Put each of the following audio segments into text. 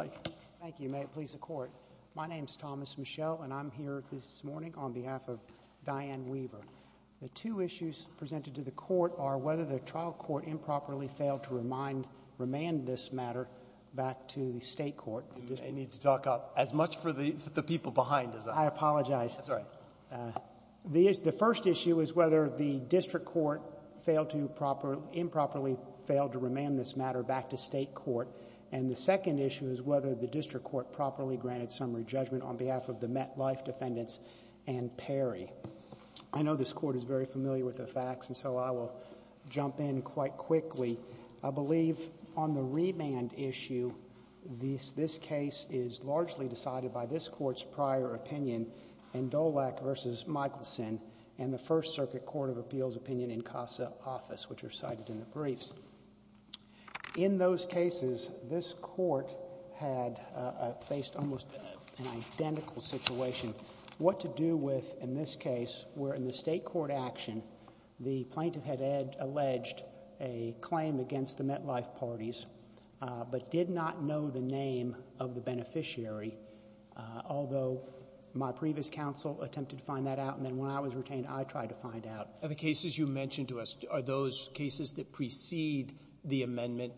al. Thank you. May it please the Court. My name is Thomas Michel and I'm here this morning on behalf of Diane Weaver. The two issues presented to the Court are whether the trial court improperly failed to remand this matter back to the State Court. You may need to talk up. As much for the people behind as I am. I apologize. That's all right. The first issue is whether the District Court improperly failed to remand this matter back to State Court. And the second issue is whether the District Court properly granted summary judgment on behalf of the MetLife defendants and Perry. I know this Court is very familiar with the facts and so I will jump in quite quickly. I believe on the remand issue, this case is largely decided by this Court's prior opinion in Dolak v. Michelson and the First Circuit Court of Appeals opinion in CASA Office, which are cited in the briefs. In those cases, this Court had faced almost an identical situation. What to do with, in this case, where in the State Court action, the plaintiff had alleged a claim against the MetLife parties but did not know the name of the beneficiary, although my previous counsel attempted to find that out and then when I was retained, I tried to find out. And the cases you mentioned to us, are those cases that precede the amendment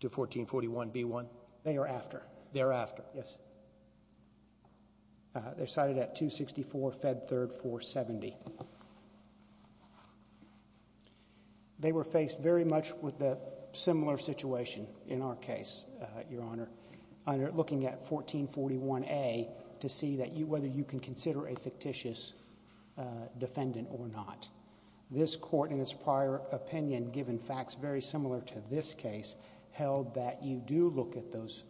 to 1441B1? They are after. They're after. Yes. They're cited at 264 Fed 3rd 470. They were faced very much with a similar situation in our case, Your Honor, looking at 1441A to see whether you can consider a fictitious defendant or not. This Court, in its prior opinion, given facts very similar to this case, held that you do look at those,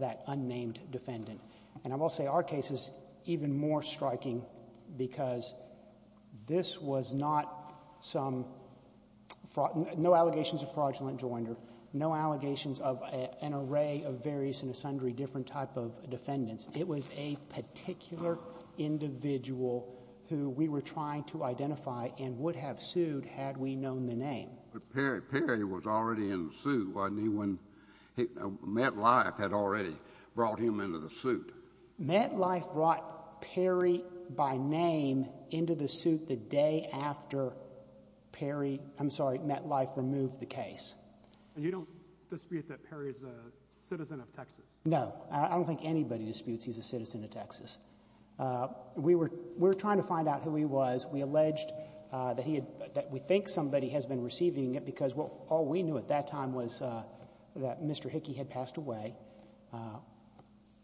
that unnamed defendant. And I will say our case is even more striking because this was not some, no allegations of fraudulent joinder, no allegations of an array of various and sundry different type of defendants. It was a particular individual who we were trying to identify and would have sued had we known the name. But Perry, Perry was already in the suit, wasn't he, when MetLife had already brought him into the suit? MetLife brought Perry by name into the suit the day after Perry, I'm sorry, MetLife removed the case. And you don't dispute that Perry is a citizen of Texas? No. I don't think anybody disputes he's a citizen of Texas. We were, we were trying to find out who he was. We alleged that he had, that we think somebody has been receiving it because all we knew at that time was that Mr. Hickey had passed away.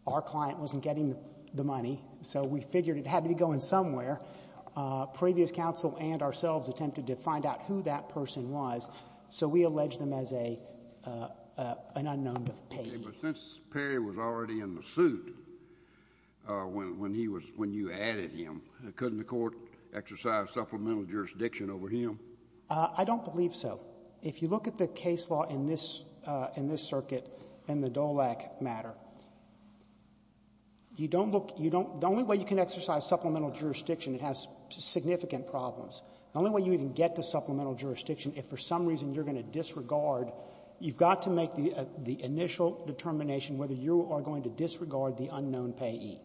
Our client wasn't getting the money, so we figured it had to be going somewhere. Previous counsel and ourselves attempted to find out who that person was, so we alleged him as a, an unknown to Perry. But since Perry was already in the suit when, when he was, when you added him, couldn't the court exercise supplemental jurisdiction over him? I don't believe so. If you look at the case law in this, in this circuit and the DOLAC matter, you don't look, you don't, the only way you can exercise supplemental jurisdiction, it has significant problems. The only way you can get to supplemental jurisdiction, if for some reason you're going to disregard, you've got to make the, the initial determination whether you are going to disregard the unknown payee.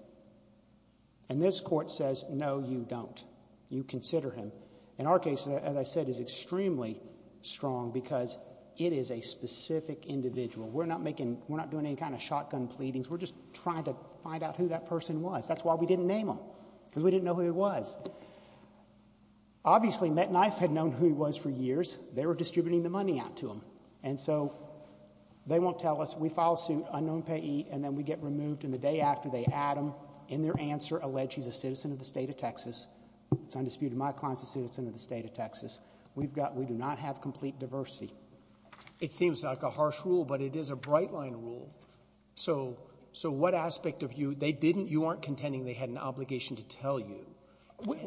And this court says, no, you don't. You consider him. In our case, as I said, is extremely strong because it is a specific individual. We're not making, we're not doing any kind of shotgun pleadings. We're just trying to find out who that person was. That's why we didn't name him, because we didn't know who he was. Obviously Metknife had known who he was for years. They were distributing the money out to him. And so they won't tell us, we file suit, unknown payee, and then we get removed, and the day after they add him, in their answer, allege he's a citizen of the state of Texas. It's undisputed. My client's a citizen of the state of Texas. We've got, we do not have complete diversity. It seems like a harsh rule, but it is a bright line rule. So, so what aspect of you, they didn't, you aren't contending they had an obligation to tell you.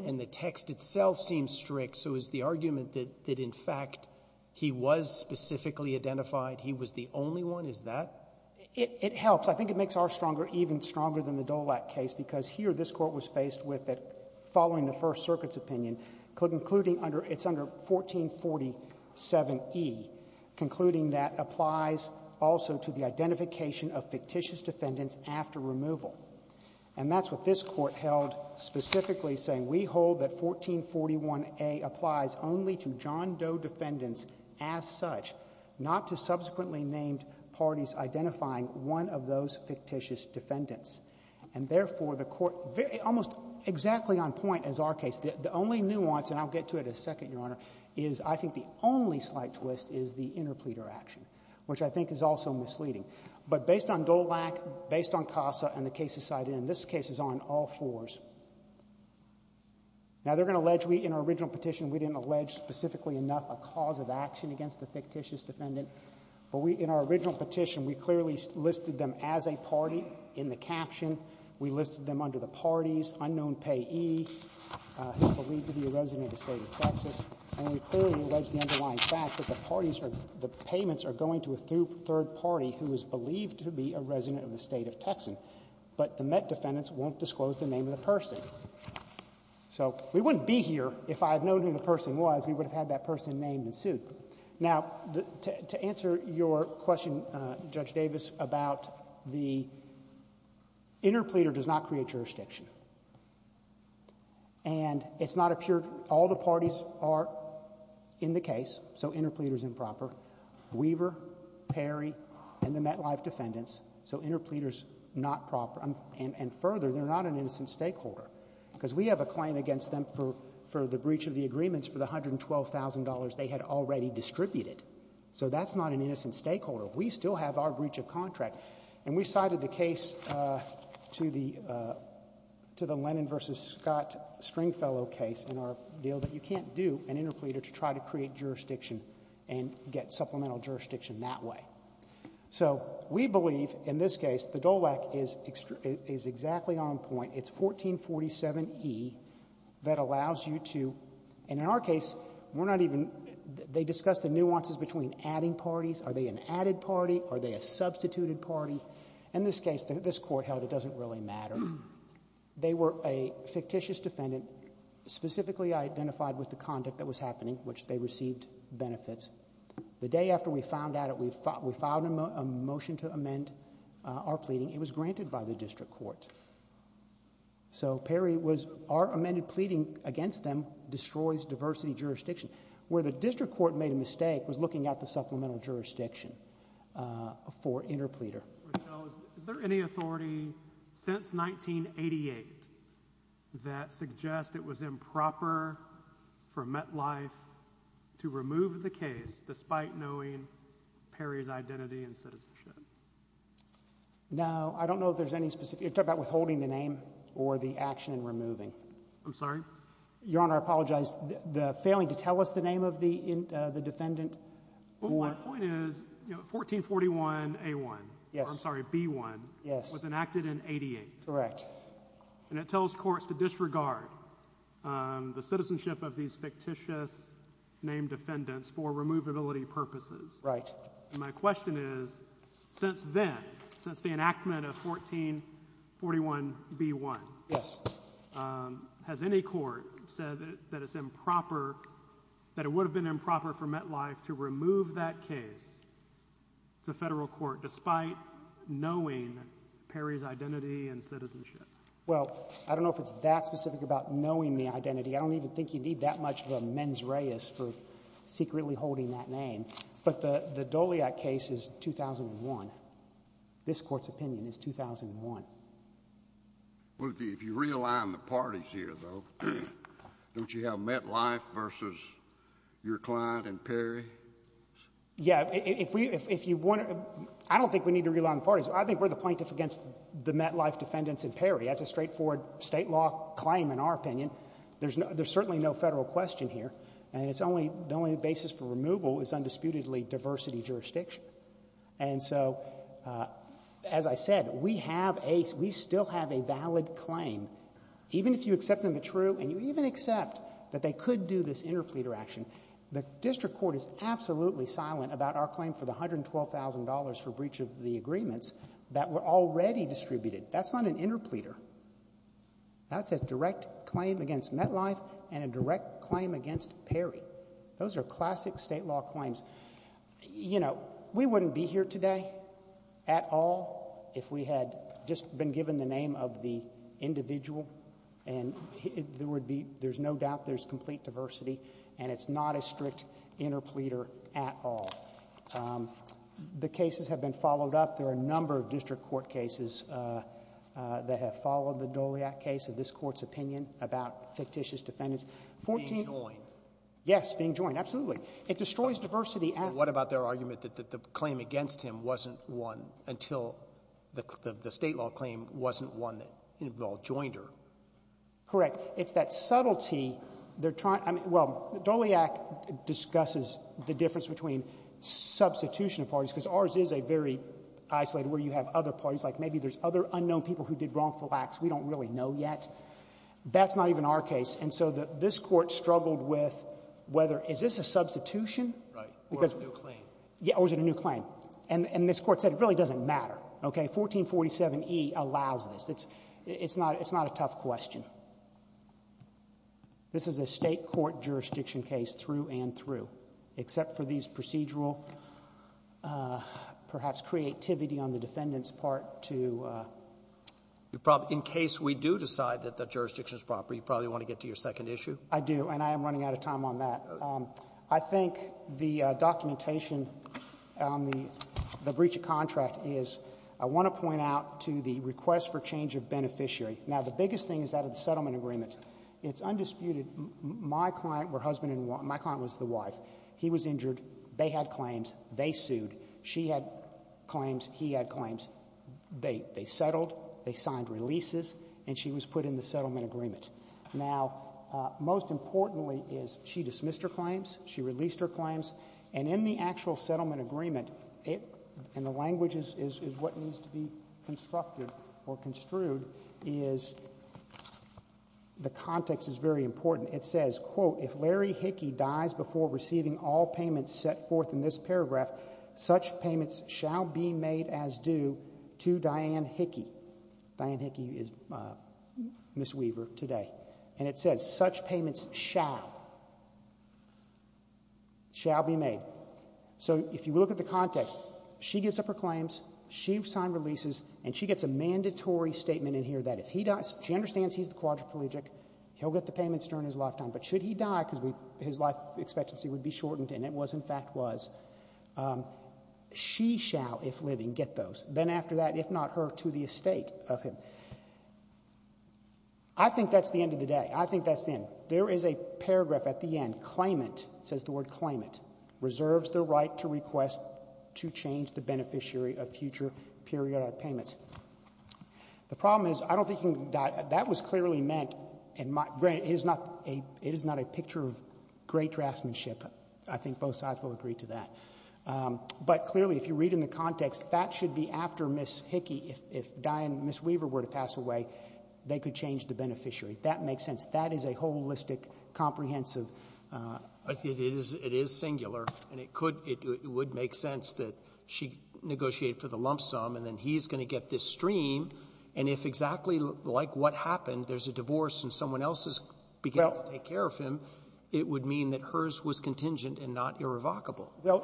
And the text itself seems strict, so is the argument that, that in fact, he was specifically identified, he was the only one, is that? It, it helps. I think it makes our stronger, even stronger than the Dolak case, because here this Court was faced with that, following the First Circuit's opinion, could including under, it's under 1447e, concluding that applies also to the identification of fictitious defendants after removal. And that's what this Court held specifically, saying we hold that 1441a applies only to John Doe defendants as such, not to subsequently named parties identifying one of those fictitious defendants. And therefore, the Court, almost exactly on point as our case, the only nuance, and I'll get to it in a second, Your Honor, is I think the only slight twist is the interpleader action, which I think is also misleading. But based on Dolak, based on CASA, and the cases cited in this case, it's on all fours. Now, they're going to allege we, in our original petition, we didn't allege specifically enough a cause of action against the fictitious defendant. But we, in our original petition, we clearly listed them as a party in the caption. We listed them under the parties, unknown payee, who's believed to be a resident of the State of Texas. And we clearly allege the underlying fact that the parties are, the payments are going to a third party who is believed to be a resident of the State of Texas. But the Met defendants won't disclose the name of the person. So we wouldn't be here if I had known who the person was, we would have had that person named and sued. Now, to answer your question, Judge Davis, about the interpleader does not create jurisdiction. And it's not a pure, all the parties are in the case, so interpleader's improper. Weaver, Perry, and the MetLife defendants, so interpleader's not proper. And further, they're not an innocent stakeholder, because we have a claim against them for the breach of the agreements for the $112,000 they had already distributed. So that's not an innocent stakeholder. We still have our breach of contract. And we cited the case to the Lennon versus Scott Stringfellow case in our deal, but you can't do an interpleader to try to create jurisdiction and get supplemental jurisdiction that way. So we believe, in this case, the DOLAC is exactly on point. It's 1447E that allows you to, and in our case, we're not even, they discuss the nuances between adding parties. Are they an added party? Are they a substituted party? In this case, this court held it doesn't really matter. They were a fictitious defendant, specifically identified with the conduct that was happening, which they received benefits. The day after we found out, we filed a motion to amend our pleading. It was granted by the district court. So Perry was, our amended pleading against them destroys diversity jurisdiction. Where the district court made a mistake was looking at the supplemental jurisdiction for interpleader. Is there any authority since 1988 that suggests it was improper for MetLife to remove the case despite knowing Perry's identity and citizenship? Now, I don't know if there's any specific, you're talking about withholding the name or the action in removing. I'm sorry? Your Honor, I apologize. The failing to tell us the name of the defendant. Well, my point is, you know, 1441A1, I'm sorry, B1 was enacted in 88. Correct. And it tells courts to disregard the citizenship of these fictitious named defendants for removability purposes. Right. And my question is, since then, since the enactment of 1441B1. Yes. Has any court said that it's improper, that it would have been improper for MetLife to remove that case to federal court despite knowing Perry's identity and citizenship? Well, I don't know if it's that specific about knowing the identity. I don't even think you need that much of a mens reis for secretly holding that name. But the, the Doliak case is 2001. This court's opinion is 2001. Well, if you realign the parties here, though, don't you have MetLife versus your client and Perry? Yeah. If we, if you want to, I don't think we need to realign the parties. I think we're the plaintiff against the MetLife defendants and Perry. That's a straightforward State law claim in our opinion. There's no, there's certainly no Federal question here. And it's only, the only basis for removal is undisputedly diversity jurisdiction. And so, as I said, we have a, we still have a valid claim. Even if you accept them to true, and you even accept that they could do this interpleader action, the district court is absolutely silent about our claim for the $112,000 for breach of the agreements that were already distributed. That's not an interpleader. That's a direct claim against MetLife and a direct claim against Perry. Those are classic State law claims. You know, we wouldn't be here today at all if we had just been given the name of the individual and there would be, there's no doubt there's complete diversity and it's not a strict interpleader at all. The cases have been followed up. There are a number of district court cases that have followed the Doliac case of this court's opinion about fictitious defendants. Fourteen. Being joined. Yes, being joined, absolutely. It destroys diversity. And what about their argument that the claim against him wasn't one until the State law claim wasn't one that involved joinder? Correct. It's that subtlety. They're trying, I mean, well, Doliac discusses the difference between substitution of parties, because ours is a very isolated where you have other parties, like maybe there's other unknown people who did wrongful acts we don't really know yet. That's not even our case. And so this court struggled with whether, is this a substitution? Right. Or is it a new claim? Yeah, or is it a new claim? And this court said it really doesn't matter, okay? 1447E allows this. It's not a tough question. This is a State court jurisdiction case through and through, except for these procedural, perhaps creativity on the defendant's part to. You probably, in case we do decide that that jurisdiction is proper, you probably want to get to your second issue. I do, and I am running out of time on that. I think the documentation on the breach of contract is, I want to point out to the request for change of beneficiary. Now, the biggest thing is that of the settlement agreement. It's undisputed. My client, my husband and my client was the wife. He was injured. They had claims. They sued. She had claims. He had claims. They settled. They signed releases. And she was put in the settlement agreement. Now, most importantly is she dismissed her claims. She released her claims. And in the actual settlement agreement, and the language is what needs to be constructed or construed, is the context is very important. It says, quote, if Larry Hickey dies before receiving all payments set forth in this paragraph, such payments shall be made as due to Diane Hickey. Diane Hickey is Ms. Weaver today. And it says, such payments shall be made. So if you look at the context, she gets up her claims. She signed releases. And she gets a mandatory statement in here that if he dies, she understands he's the quadriplegic. He'll get the payments during his lifetime. But should he die, because his life expectancy would be shortened, and it was, in fact, was, she shall, if living, get those. Then after that, if not her, to the estate of him. I think that's the end of the day. I think that's the end. There is a paragraph at the end, claimant, says the word claimant, reserves the right to request to change the beneficiary of future periodic payments. The problem is, I don't think that was clearly meant, and granted, it is not a picture of great draftsmanship. I think both sides will agree to that. But clearly, if you read in the context, that should be after Ms. Hickey, if Diane, Ms. Weaver were to pass away, they could change the beneficiary. That makes sense. That is a holistic, comprehensive. It is singular, and it would make sense that she negotiated for the lump sum, and then he's going to get this stream. And if exactly like what happened, there's a divorce and someone else is beginning to take care of him, it would mean that hers was contingent and not irrevocable. Well,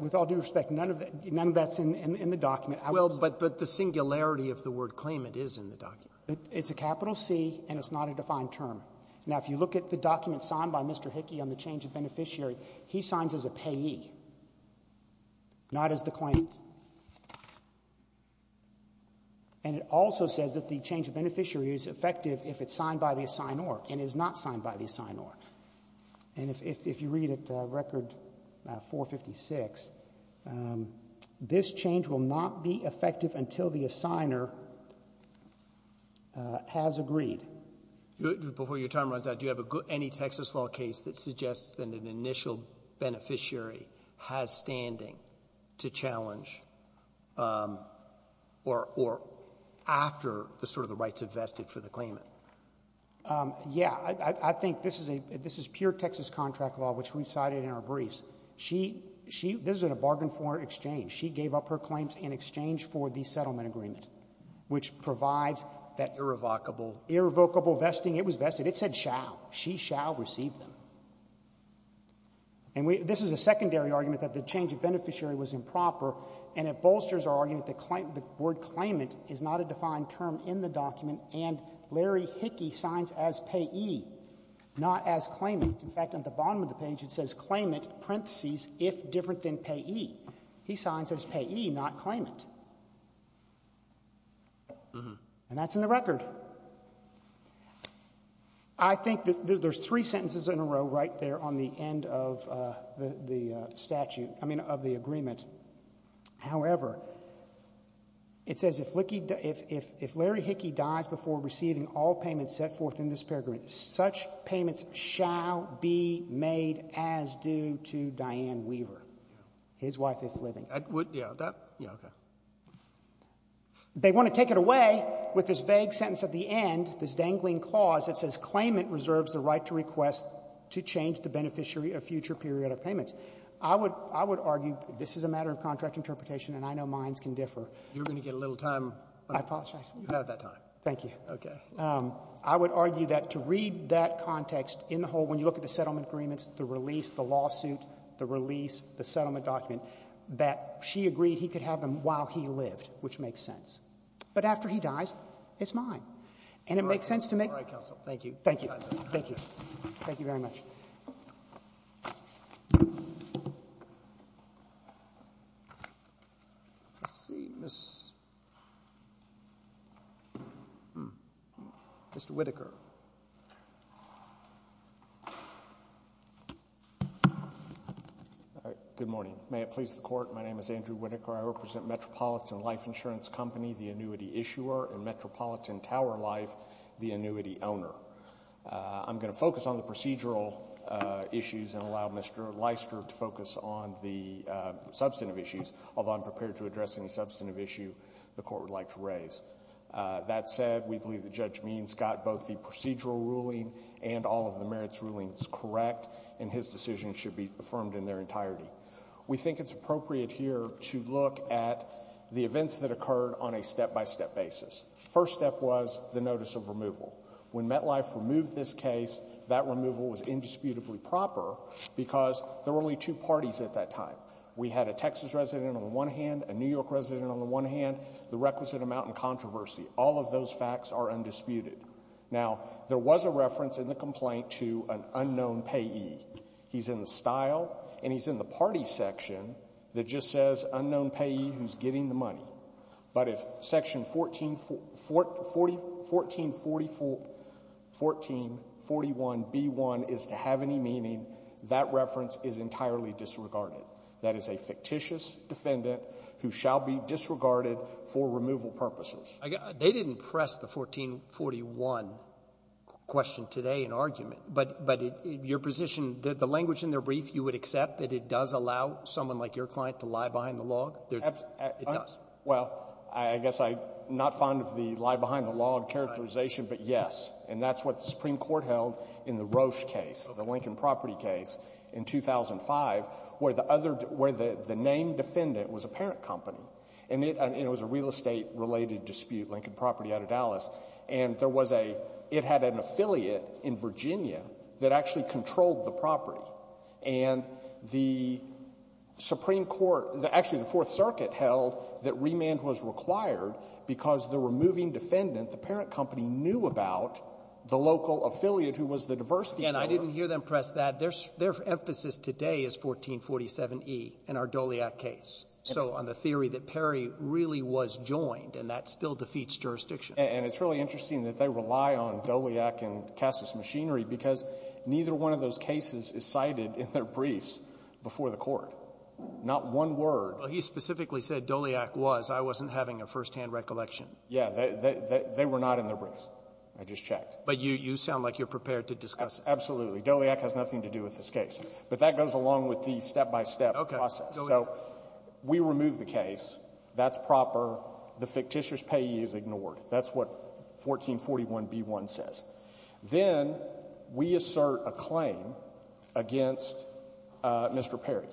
with all due respect, none of that's in the document. Well, but the singularity of the word claimant is in the document. It's a capital C, and it's not a defined term. Now, if you look at the document signed by Mr. Hickey on the change of beneficiary, he signs as a payee, not as the claimant. And it also says that the change of beneficiary is effective if it's signed by the assignor and is not signed by the assignor. And if you read it, Record 456, this change will not be effective until the assigner has agreed. Before your time runs out, do you have any Texas law case that suggests that an initial beneficiary has standing to challenge, or after the rights have vested for the claimant? Yeah. I think this is pure Texas contract law, which we cited in our briefs. This is a bargain for exchange. She gave up her claims in exchange for the settlement agreement, which provides that irrevocable vesting. It was vested. It said shall. She shall receive them. And this is a secondary argument that the change of beneficiary was improper, and it bolsters our argument that the word claimant is not a defined term in the not as claimant. In fact, at the bottom of the page, it says claimant, parentheses, if different than payee. He signs as payee, not claimant. And that's in the record. I think there's three sentences in a row right there on the end of the statute, I mean, of the agreement. However, it says if Larry Hickey dies before receiving all payments set forth in this paragraph, such payments shall be made as due to Diane Weaver, his wife is living. I would, yeah, that, yeah, okay. They want to take it away with this vague sentence at the end, this dangling clause that says claimant reserves the right to request to change the beneficiary of future period of payments. I would argue this is a matter of contract interpretation, and I know minds can differ. You're going to get a little time. I apologize. You have that time. Thank you. Okay. I would argue that to read that context in the whole, when you look at the settlement agreements, the release, the lawsuit, the release, the settlement document, that she agreed he could have them while he lived, which makes sense. But after he dies, it's mine. And it makes sense to make the right choice. Thank you. Thank you. Thank you. Thank you very much. Let's see, Mr. Whittaker. Good morning. May it please the Court, my name is Andrew Whittaker. I represent Metropolitan Life Insurance Company, the annuity issuer, and Metropolitan Tower Life, the annuity owner. I'm going to focus on the procedural issues and allow Mr. Leister to focus on the substantive issues, although I'm prepared to address any substantive issue the Court would like to raise. That said, we believe that Judge Means got both the procedural ruling and all of the merits rulings correct, and his decision should be affirmed in their entirety. We think it's appropriate here to look at the events that occurred on a step-by-step basis. First step was the notice of removal. When MetLife removed this case, that removal was indisputably proper because there were only two parties at that time. We had a Texas resident on the one hand, a New York resident on the one hand, the requisite amount and controversy. All of those facts are undisputed. Now, there was a reference in the complaint to an unknown payee. He's in the style, and he's in the party section that just says, unknown payee who's getting the money. But if Section 1441b-1 is to have any meaning, that reference is entirely disregarded. That is a fictitious defendant who shall be disregarded for removal purposes. Roberts. They didn't press the 1441 question today in argument. But your position, the language in their brief, you would accept that it does allow someone like your client to lie behind the log? It does. Well, I guess I'm not fond of the lie behind the log characterization, but yes. And that's what the Supreme Court held in the Roche case, the Lincoln Property case in 2005, where the other — where the named defendant was a parent company. And it was a real estate-related dispute, Lincoln Property out of Dallas. And there was a — it had an affiliate in Virginia that actually controlled the property. And the Supreme Court — actually, the Fourth Circuit held that remand was required because the removing defendant, the parent company, knew about the local affiliate who was the diversity — And I didn't hear them press that. Their emphasis today is 1447e in our Doliak case. So on the theory that Perry really was joined, and that still defeats jurisdiction. And it's really interesting that they rely on Doliak and Cassus Machinery because neither one of those cases is cited in their briefs before the Court. Not one word. But he specifically said Doliak was. I wasn't having a firsthand recollection. Yeah. They were not in their briefs. I just checked. But you sound like you're prepared to discuss it. Absolutely. Doliak has nothing to do with this case. But that goes along with the step-by-step process. So we remove the case. That's proper. The fictitious payee is ignored. That's what 1441b1 says. Then we assert a claim against Mr. Perry.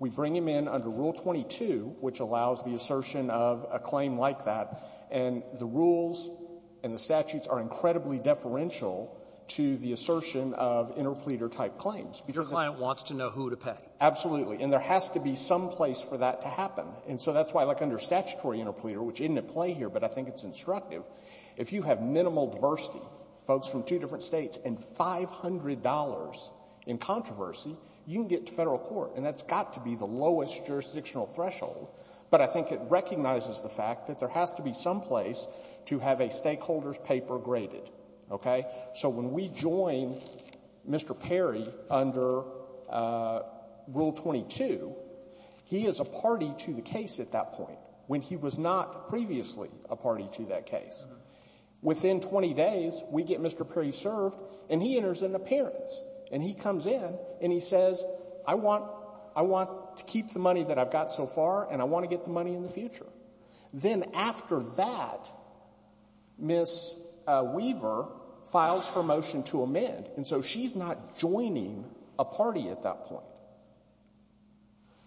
We bring him in under Rule 22, which allows the assertion of a claim like that. And the rules and the statutes are incredibly deferential to the assertion of interpleader-type claims. Your client wants to know who to pay. Absolutely. And there has to be some place for that to happen. And so that's why, like, under statutory interpleader, which isn't at play here, but I think it's instructive, if you have minimal diversity, folks from two different states, and $500 in controversy, you can get to federal court. And that's got to be the lowest jurisdictional threshold. But I think it recognizes the fact that there has to be some place to have a stakeholder's paper graded. Okay? So when we join Mr. Perry under Rule 22, he is a party to the case at that point, when he was not previously a party to that case. Within 20 days, we get Mr. Perry served, and he enters in appearance. And he comes in, and he says, I want to keep the money that I've got so far, and I want to get the money in the future. Then after that, Ms. Weaver files her motion to amend. And so she's not joining a party at that point.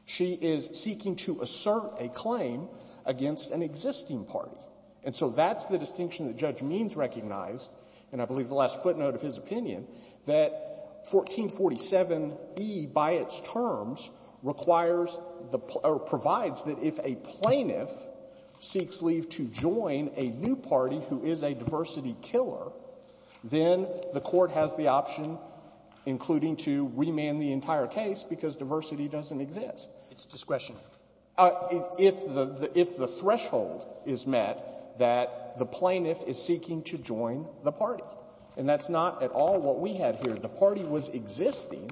She is seeking to assert a claim against an existing party. And so that's the distinction that Judge Means recognized, and I believe the last footnote of his opinion, that 1447e, by its terms, requires the or provides that if a plaintiff seeks leave to join a new party who is a diversity killer, then the Court has the option, including to remand the entire case, because diversity doesn't exist. It's discretion. If the threshold is met that the plaintiff is seeking to join the party. And that's not at all what we had here. The party was existing,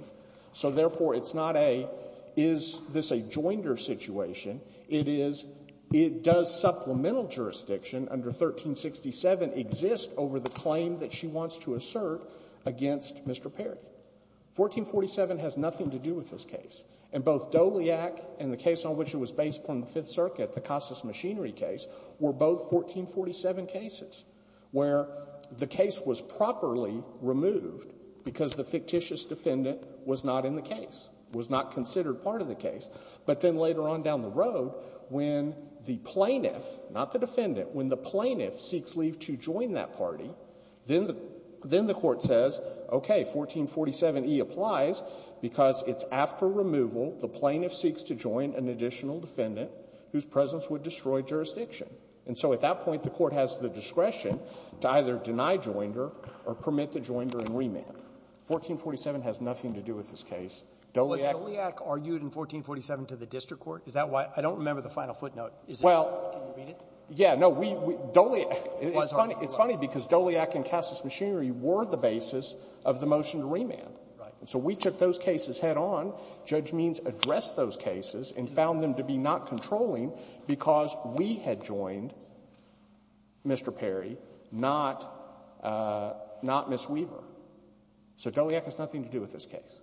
so therefore, it's not a, is this a joinder situation. It is, does supplemental jurisdiction under 1367 exist over the claim that she wants to assert against Mr. Perry? 1447 has nothing to do with this case. And both Doliak and the case on which it was based from the Fifth Circuit, the Casas machinery case, were both 1447 cases where the case was properly removed because the fictitious defendant was not in the case, was not considered part of the case. But then later on down the road, when the plaintiff, not the defendant, when the plaintiff seeks leave to join that party, then the Court says, okay, 1447e applies because it's after removal the plaintiff seeks to join an additional defendant whose presence would destroy jurisdiction. And so at that point, the Court has the discretion to either deny joinder or permit the joinder and remand. 1447 has nothing to do with this case. Doliak was the one who argued in 1447 to the district court. Is that why? I don't remember the final footnote. Is it? Can you read it? Yeah. No. Doliak was the one who argued. It's funny because Doliak and Casas machinery were the basis of the motion to remand. Right. And so we took those cases head-on. Judge Means addressed those cases and found them to be not controlling because we had joined Mr. Perry, not Ms. Weaver. So Doliak has nothing to do with this case.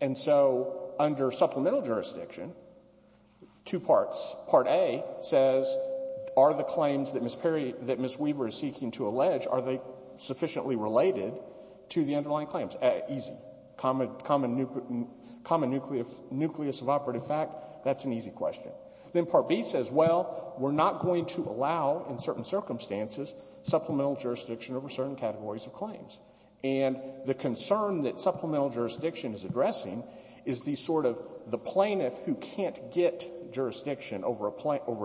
And so under supplemental jurisdiction, two parts. Part A says, are the claims that Ms. Perry, that Ms. Weaver is seeking to allege, are they sufficiently related to the underlying claims? Easy. Common nucleus of operative fact, that's an easy question. Then Part B says, well, we're not going to allow, in certain circumstances, supplemental jurisdiction over certain categories of claims. And the concern that supplemental jurisdiction is addressing is the sort of the plaintiff who can't get jurisdiction over a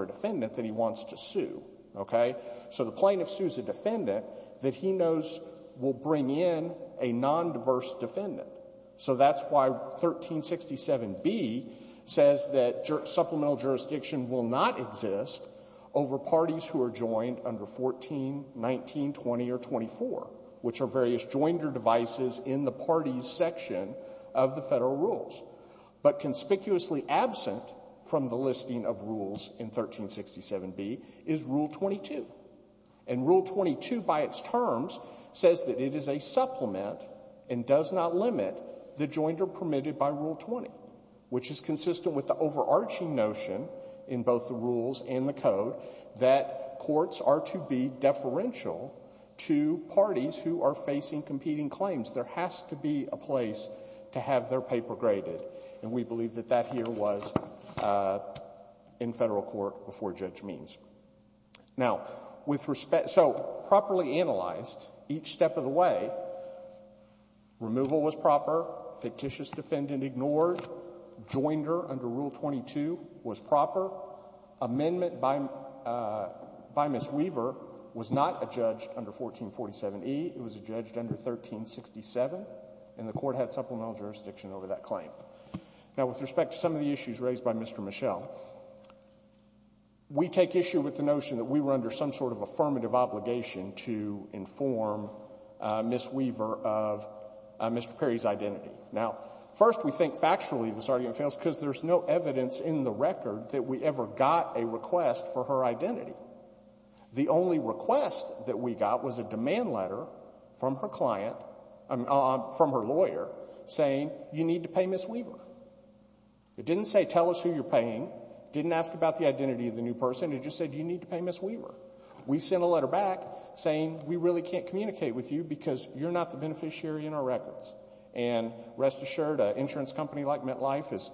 defendant that he wants to sue. Okay? So the plaintiff sues a defendant that he knows will bring in a nondiverse defendant. So that's why 1367B says that supplemental jurisdiction will not exist over parties who are joined under 14, 19, 20, or 24, which are various joinder devices in the parties section of the Federal rules. But conspicuously absent from the listing of rules in 1367B is Rule 22. And Rule 22, by its terms, says that it is a supplement and does not limit the joinder permitted by Rule 20, which is consistent with the overarching notion in both the rules and the code that courts are to be deferential to parties who are facing competing claims. There has to be a place to have their paper graded. And we believe that that here was in Federal court before Judge Means. Now, with respect to — so properly analyzed, each step of the way, removal was proper. Fictitious defendant ignored. Joinder under Rule 22 was proper. Amendment by Ms. Weaver was not adjudged under 1447E. It was adjudged under 1367, and the Court had supplemental jurisdiction over that claim. Now, with respect to some of the issues raised by Mr. Mischel, we take issue with the notion that we were under some sort of affirmative obligation to inform Ms. Weaver of Mr. Perry's identity. Now, first, we think factually this argument fails because there's no evidence in the court that we ever got a request for her identity. The only request that we got was a demand letter from her client — from her lawyer saying you need to pay Ms. Weaver. It didn't say tell us who you're paying. Didn't ask about the identity of the new person. It just said you need to pay Ms. Weaver. We sent a letter back saying we really can't communicate with you because you're not the beneficiary in our records. And rest assured, an insurance company like MetLife is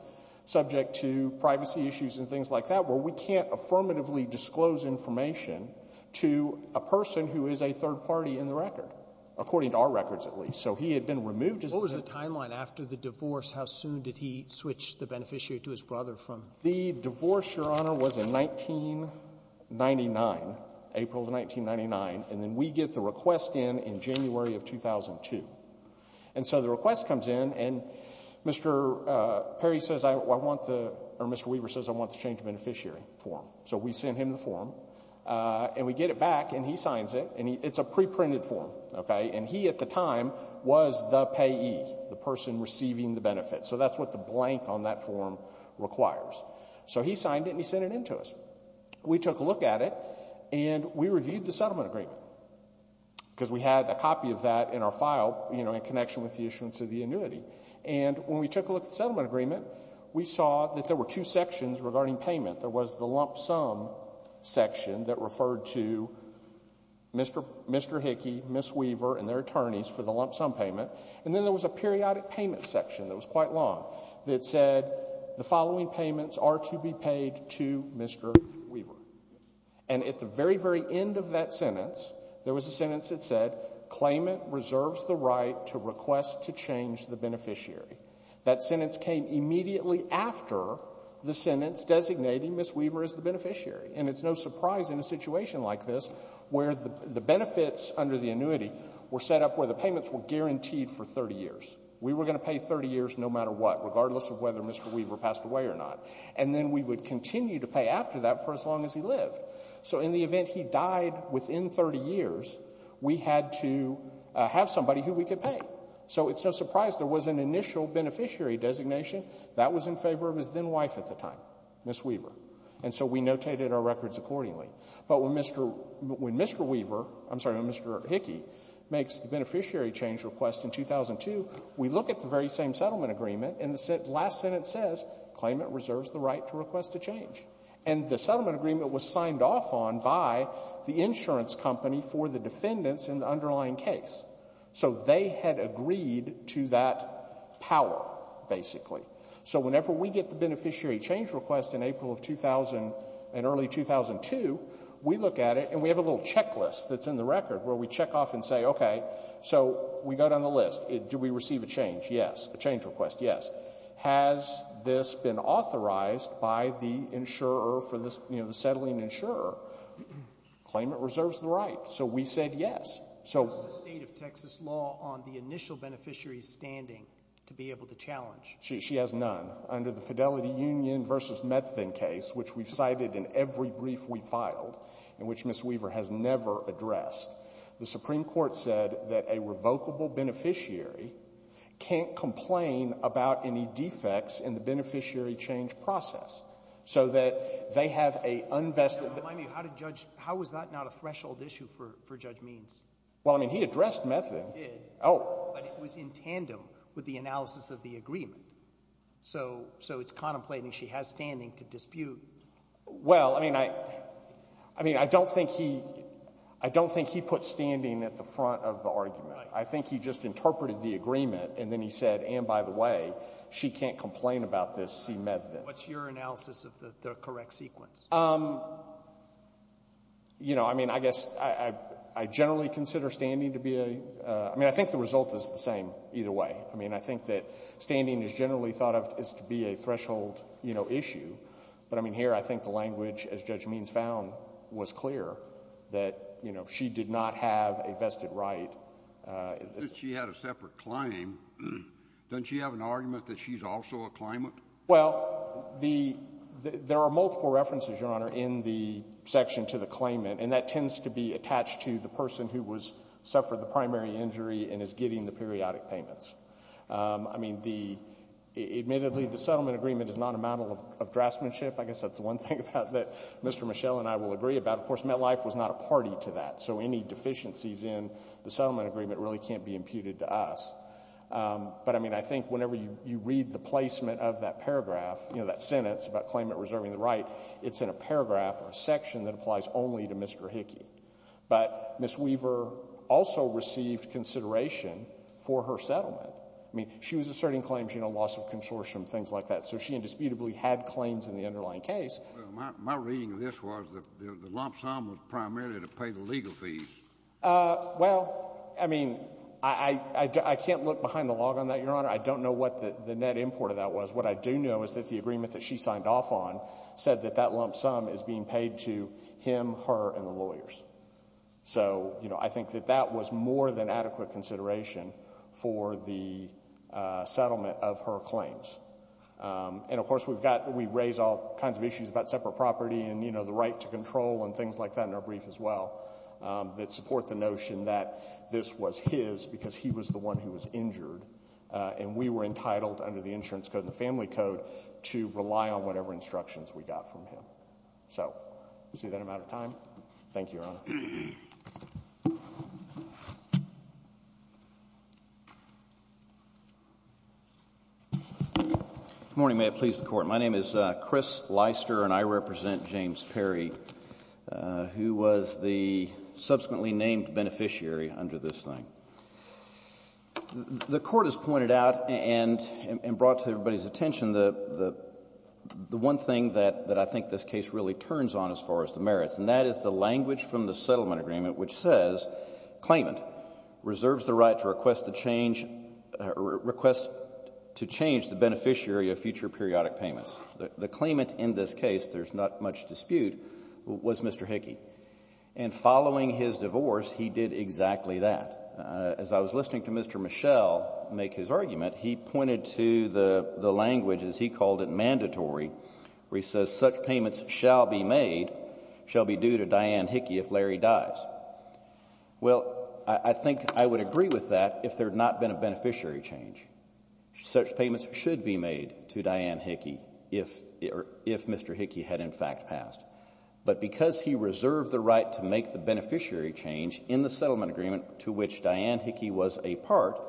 subject to privacy issues and things like that where we can't affirmatively disclose information to a person who is a third party in the record, according to our records, at least. So he had been removed as a — Sotomayor, what was the timeline after the divorce? How soon did he switch the beneficiary to his brother from — The divorce, Your Honor, was in 1999, April of 1999, and then we get the request in in January of 2002. And so the request comes in, and Mr. Perry says I want the — or Mr. Weaver says I want the change of beneficiary form. So we send him the form, and we get it back, and he signs it, and it's a pre-printed form, okay? And he at the time was the payee, the person receiving the benefit. So that's what the blank on that form requires. So he signed it, and he sent it in to us. We took a look at it, and we reviewed the settlement agreement because we had a copy of that in our file, you know, in connection with the issuance of the annuity. And when we took a look at the settlement agreement, we saw that there were two sections regarding payment. There was the lump sum section that referred to Mr. Hickey, Ms. Weaver, and their attorneys for the lump sum payment, and then there was a periodic payment section that was quite long that said the following payments are to be paid to Mr. Weaver. And at the very, very end of that sentence, there was a sentence that said claimant reserves the right to request to change the beneficiary. That sentence came immediately after the sentence designating Ms. Weaver as the beneficiary. And it's no surprise in a situation like this where the benefits under the annuity were set up where the payments were guaranteed for 30 years. We were going to pay 30 years no matter what, regardless of whether Mr. Weaver passed away or not. And then we would continue to pay after that for as long as he lived. So in the event he died within 30 years, we had to have somebody who we could pay. So it's no surprise there was an initial beneficiary designation that was in favor of his then-wife at the time, Ms. Weaver. And so we notated our records accordingly. But when Mr. Weaver — I'm sorry, when Mr. Hickey makes the beneficiary change request in 2002, we look at the very same settlement agreement, and the last sentence says claimant reserves the right to request to change. And the settlement agreement was signed off on by the insurance company for the defendants in the underlying case. So they had agreed to that power, basically. So whenever we get the beneficiary change request in April of 2000, in early 2002, we look at it, and we have a little checklist that's in the record where we check off and say, okay, so we got on the list. Do we receive a change? Yes. A change request? Yes. Has this been authorized by the insurer for the — you know, the settling insurer? Claimant reserves the right. So we said yes. So — What's the state of Texas law on the initial beneficiary's standing to be able to challenge? She has none. Under the Fidelity Union v. Methvin case, which we've cited in every brief we filed, and which Ms. Weaver has never addressed, the Supreme Court said that a revocable beneficiary can't complain about any defects in the beneficiary change process. So that they have a unvested — Remind me, how did Judge — how was that not a threshold issue for Judge Means? Well, I mean, he addressed Methvin. He did. Oh. But it was in tandem with the analysis of the agreement. So it's contemplating she has standing to dispute — Well, I mean, I don't think he — I don't think he put standing at the front of the argument. I think he just interpreted the agreement, and then he said, and by the way, she can't complain about this C. Methvin. What's your analysis of the correct sequence? You know, I mean, I guess I generally consider standing to be a — I mean, I think the result is the same either way. I mean, I think that standing is generally thought of as to be a threshold, you know, issue. But, I mean, here I think the language, as Judge Means found, was clear, that, you know, she did not have a vested right. Since she had a separate claim, doesn't she have an argument that she's also a claimant? Well, the — there are multiple references, Your Honor, in the section to the claimant, and that tends to be attached to the person who was — suffered the primary injury and is getting the periodic payments. I mean, the — admittedly, the settlement agreement is not a matter of draftsmanship. I guess that's the one thing that Mr. Mischel and I will agree about. Of course, MetLife was not a party to that. So any deficiencies in the settlement agreement really can't be imputed to us. But, I mean, I think whenever you read the placement of that paragraph, you know, that sentence about claimant reserving the right, it's in a paragraph or a section that applies only to Mr. Hickey. But Ms. Weaver also received consideration for her settlement. I mean, she was asserting claims, you know, loss of consortium, things like that. So she indisputably had claims in the underlying case. Well, my reading of this was that the lump sum was primarily to pay the legal fees. Well, I mean, I can't look behind the log on that, Your Honor. I don't know what the net import of that was. What I do know is that the agreement that she signed off on said that that lump sum is being paid to him, her, and the lawyers. So, you know, I think that that was more than adequate consideration for the settlement of her claims. And, of course, we've got, we raise all kinds of issues about separate property and, you know, the right to control and things like that in our brief as well, that support the notion that this was his because he was the one who was injured. And we were entitled, under the insurance code and the family code, to rely on whatever instructions we got from him. So, you see that I'm out of time? Thank you, Your Honor. Good morning, may it please the court. My name is Chris Leister and I represent James Perry, who was the subsequently named beneficiary under this thing. The court has pointed out and brought to everybody's attention the one thing that I think this case really turns on as far as the merits. And that is the language from the settlement agreement which says, claimant, reserves the right to request the change, request to change the beneficiary of future periodic payments. The claimant in this case, there's not much dispute, was Mr. Hickey. And following his divorce, he did exactly that. As I was listening to Mr. Michelle make his argument, he pointed to the language, as he called it, mandatory. Where he says, such payments shall be made, shall be due to Diane Hickey if Larry dies. Well, I think I would agree with that if there had not been a beneficiary change. Such payments should be made to Diane Hickey if Mr. Hickey had in fact passed. But because he reserved the right to make the beneficiary change in the settlement agreement to which Diane Hickey was a part,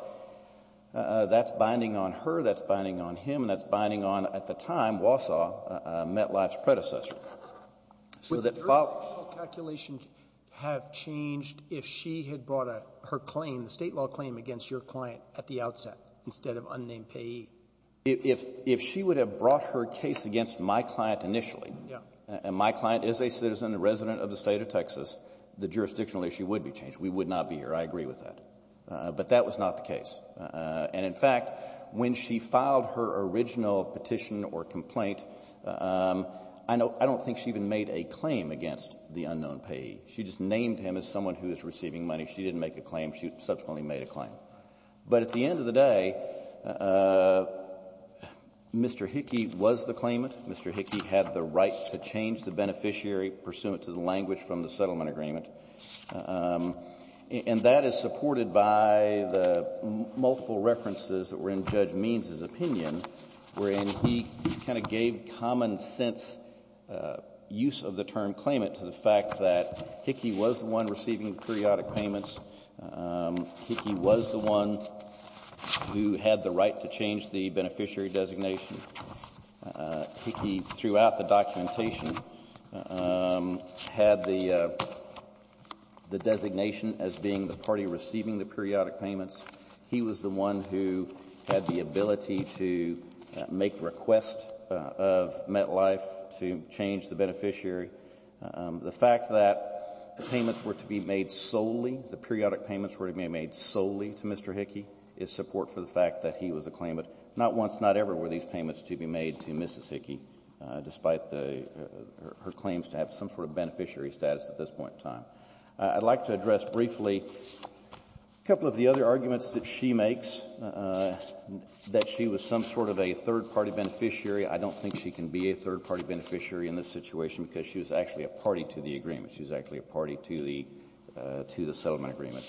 that's binding on her, that's binding on him, and that's binding on, at the time, Wausau, MetLife's predecessor. Would the jurisdictional calculation have changed if she had brought her claim, the state law claim, against your client at the outset instead of unnamed payee? If she would have brought her case against my client initially, and my client is a citizen, a resident of the state of Texas, the jurisdictional issue would be changed. We would not be here, I agree with that. But that was not the case. And in fact, when she filed her original petition or complaint, I don't think she even made a claim against the unknown payee. She just named him as someone who is receiving money. She didn't make a claim. She subsequently made a claim. But at the end of the day, Mr. Hickey was the claimant. Mr. Hickey had the right to change the beneficiary pursuant to the language from the settlement agreement. And that is supported by the multiple references that were in Judge Means' opinion, wherein he kind of gave common sense use of the term claimant to the fact that Hickey was the one receiving periodic payments. Hickey was the one who had the right to change the beneficiary designation. Hickey had the designation as being the party receiving the periodic payments. He was the one who had the ability to make requests of MetLife to change the beneficiary. The fact that the payments were to be made solely, the periodic payments were to be made solely to Mr. Hickey, is support for the fact that he was a claimant. Not once, not ever were these payments to be made to Mrs. Hickey, despite her claims to have some sort of beneficiary status at this point in time. I'd like to address briefly a couple of the other arguments that she makes, that she was some sort of a third party beneficiary. I don't think she can be a third party beneficiary in this situation, because she was actually a party to the agreement. She was actually a party to the settlement agreement.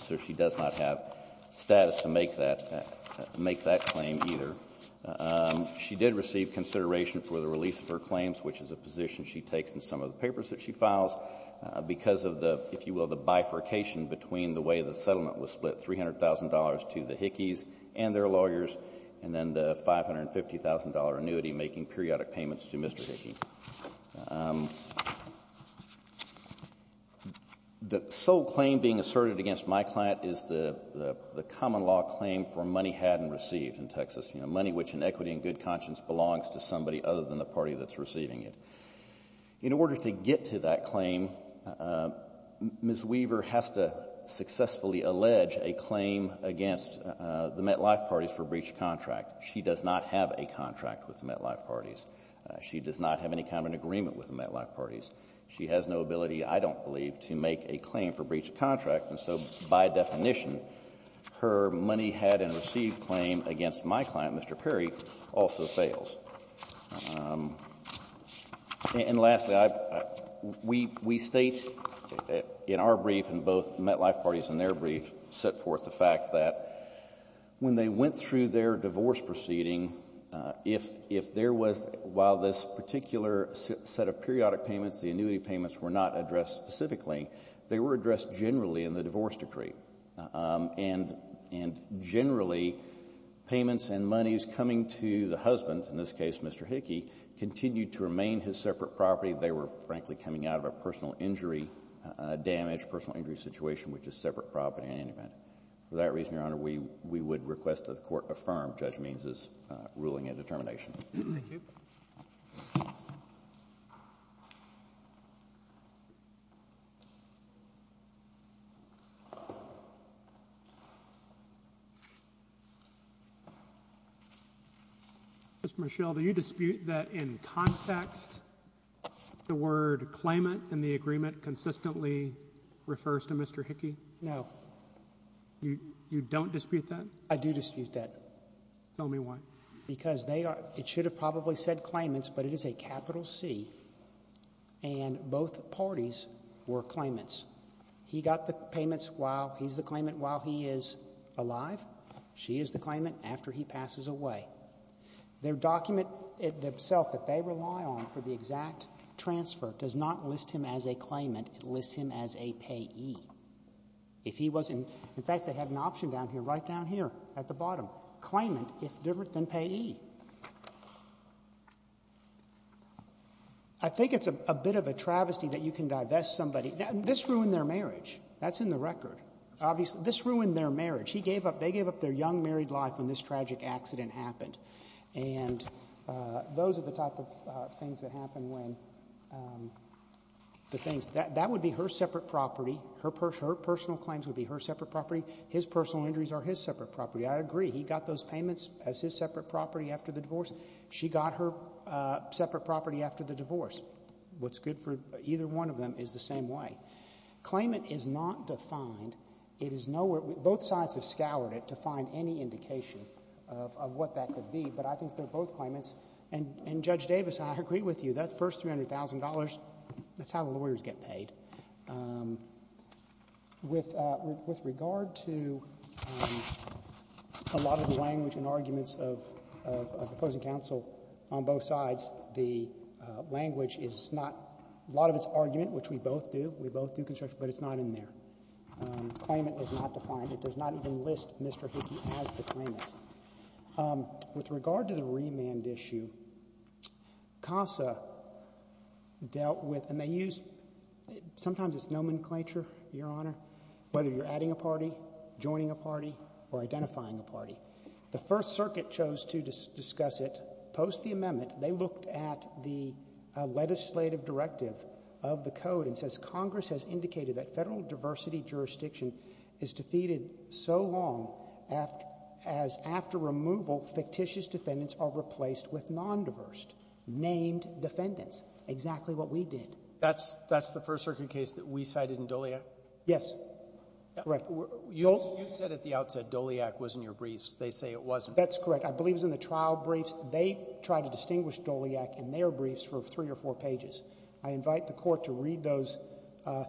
So she does not have status to make that claim either. She did receive consideration for the release of her claims, which is a position she takes in some of the papers that she files. Because of the, if you will, the bifurcation between the way the settlement was split, $300,000 to the Hickeys and their lawyers. And then the $550,000 annuity making periodic payments to Mr. Hickey. The sole claim being asserted against my client is the common law claim for money had and received in Texas. You know, money which in equity and good conscience belongs to somebody other than the party that's receiving it. In order to get to that claim, Ms. Weaver has to successfully allege a claim against the MetLife Parties for breach of contract. She does not have a contract with the MetLife Parties. She does not have any kind of an agreement with the MetLife Parties. She has no ability, I don't believe, to make a claim for breach of contract. And so, by definition, her money had and received claim against my client, Mr. Perry, also fails. And lastly, we state in our brief and both MetLife Parties and their brief set forth the fact that when they went through their divorce proceeding, if there was, while this particular set of periodic payments, the annuity payments were not addressed specifically, they were addressed generally in the divorce decree, and generally, payments and monies coming to the husband, in this case, Mr. Hickey, continued to remain his separate property. They were, frankly, coming out of a personal injury damage, personal injury situation, which is separate property and independent. For that reason, Your Honor, we would request that the court affirm Judge Means's ruling and determination. Thank you. Ms. Michelle, do you dispute that in context, the word claimant in the agreement consistently refers to Mr. Hickey? No. You don't dispute that? I do dispute that. Tell me why. Because they are, it should have probably said claimants, but it is a capital C, and both parties were claimants. He got the payments while he's the claimant while he is alive. She is the claimant after he passes away. Their document itself that they rely on for the exact transfer does not list him as a claimant, it lists him as a payee. If he wasn't, in fact, they had an option down here, right down here at the bottom, claimant if different than payee. I think it's a bit of a travesty that you can divest somebody. Now, this ruined their marriage. That's in the record. Obviously, this ruined their marriage. He gave up, they gave up their young married life when this tragic accident happened. And those are the type of things that happen when the things, that would be her separate property, her personal claims would be her separate property, his personal injuries are his separate property. I agree, he got those payments as his separate property after the divorce. She got her separate property after the divorce. What's good for either one of them is the same way. Claimant is not defined. It is nowhere, both sides have scoured it to find any indication of what that could be, but I think they're both claimants. And Judge Davis, I agree with you, that first $300,000, that's how lawyers get paid. With regard to a lot of the language and arguments of opposing counsel on both sides, the language is not, a lot of it's argument, which we both do, we both do construction, but it's not in there. Claimant is not defined. It does not even list Mr. Hickey as the claimant. With regard to the remand issue, CASA dealt with, and they use, sometimes it's nomenclature, Your Honor, whether you're adding a party, joining a party, or identifying a party. The First Circuit chose to discuss it post the amendment. They looked at the legislative directive of the code and says Congress has indicated that federal diversity jurisdiction is defeated so long as after removal, fictitious defendants are replaced with non-diverse, named defendants, exactly what we did. That's the First Circuit case that we cited in Doliac? Yes, correct. You said at the outset, Doliac was in your briefs. They say it wasn't. That's correct. I believe it was in the trial briefs. They tried to distinguish Doliac in their briefs for three or four pages. I invite the court to read those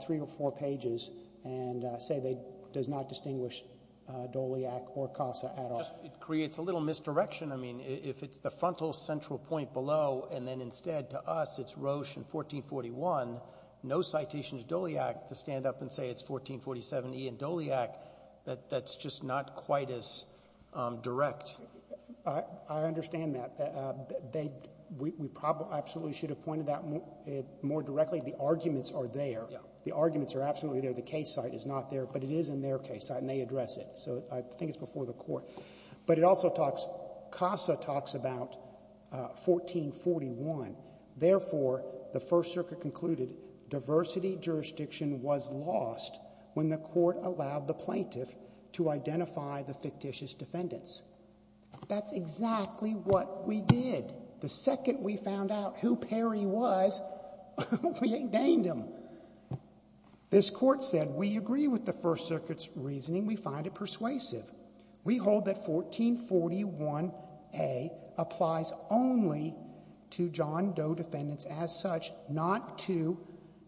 three or four pages and say it does not distinguish Doliac or CASA at all. It creates a little misdirection. If it's the frontal central point below and then instead to us, it's Roche in 1441, no citation to Doliac to stand up and say it's 1447E in Doliac. That's just not quite as direct. I understand that. We probably absolutely should have pointed that more directly. The arguments are there. The arguments are absolutely there. The case site is not there, but it is in their case site and they address it. So I think it's before the court. But it also talks, CASA talks about 1441. Therefore, the First Circuit concluded diversity jurisdiction was lost when the court allowed the plaintiff to identify the fictitious defendants. That's exactly what we did. The second we found out who Perry was, we indained him. This court said, we agree with the First Circuit's reasoning. We find it persuasive. We hold that 1441A applies only to John Doe defendants as such, not to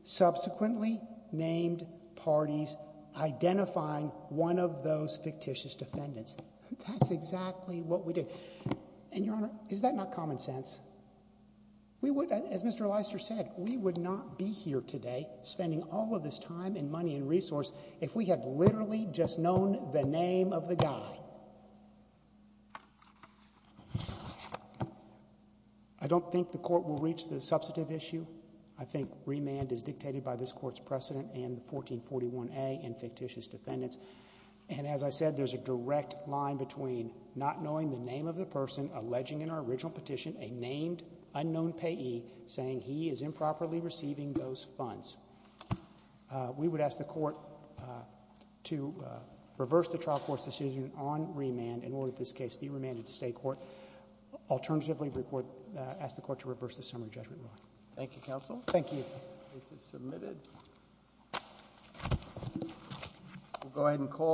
subsequently named parties identifying one of those fictitious defendants. That's exactly what we did. And, Your Honor, is that not common sense? We would, as Mr. Leister said, we would not be here today spending all of this time and money and resource if we had literally just known the name of the guy. I don't think the court will reach the substantive issue. I think remand is dictated by this court's precedent and the 1441A in fictitious defendants. And as I said, there's a direct line between not knowing the name of the person alleging in our original petition a named unknown payee, saying he is improperly receiving those funds. We would ask the court to reverse the trial court's decision on remand in order, in this case, to be remanded to state court. Alternatively, ask the court to reverse the summary judgment ruling. Thank you, counsel. Thank you. The case is submitted. We'll go ahead and call the roll.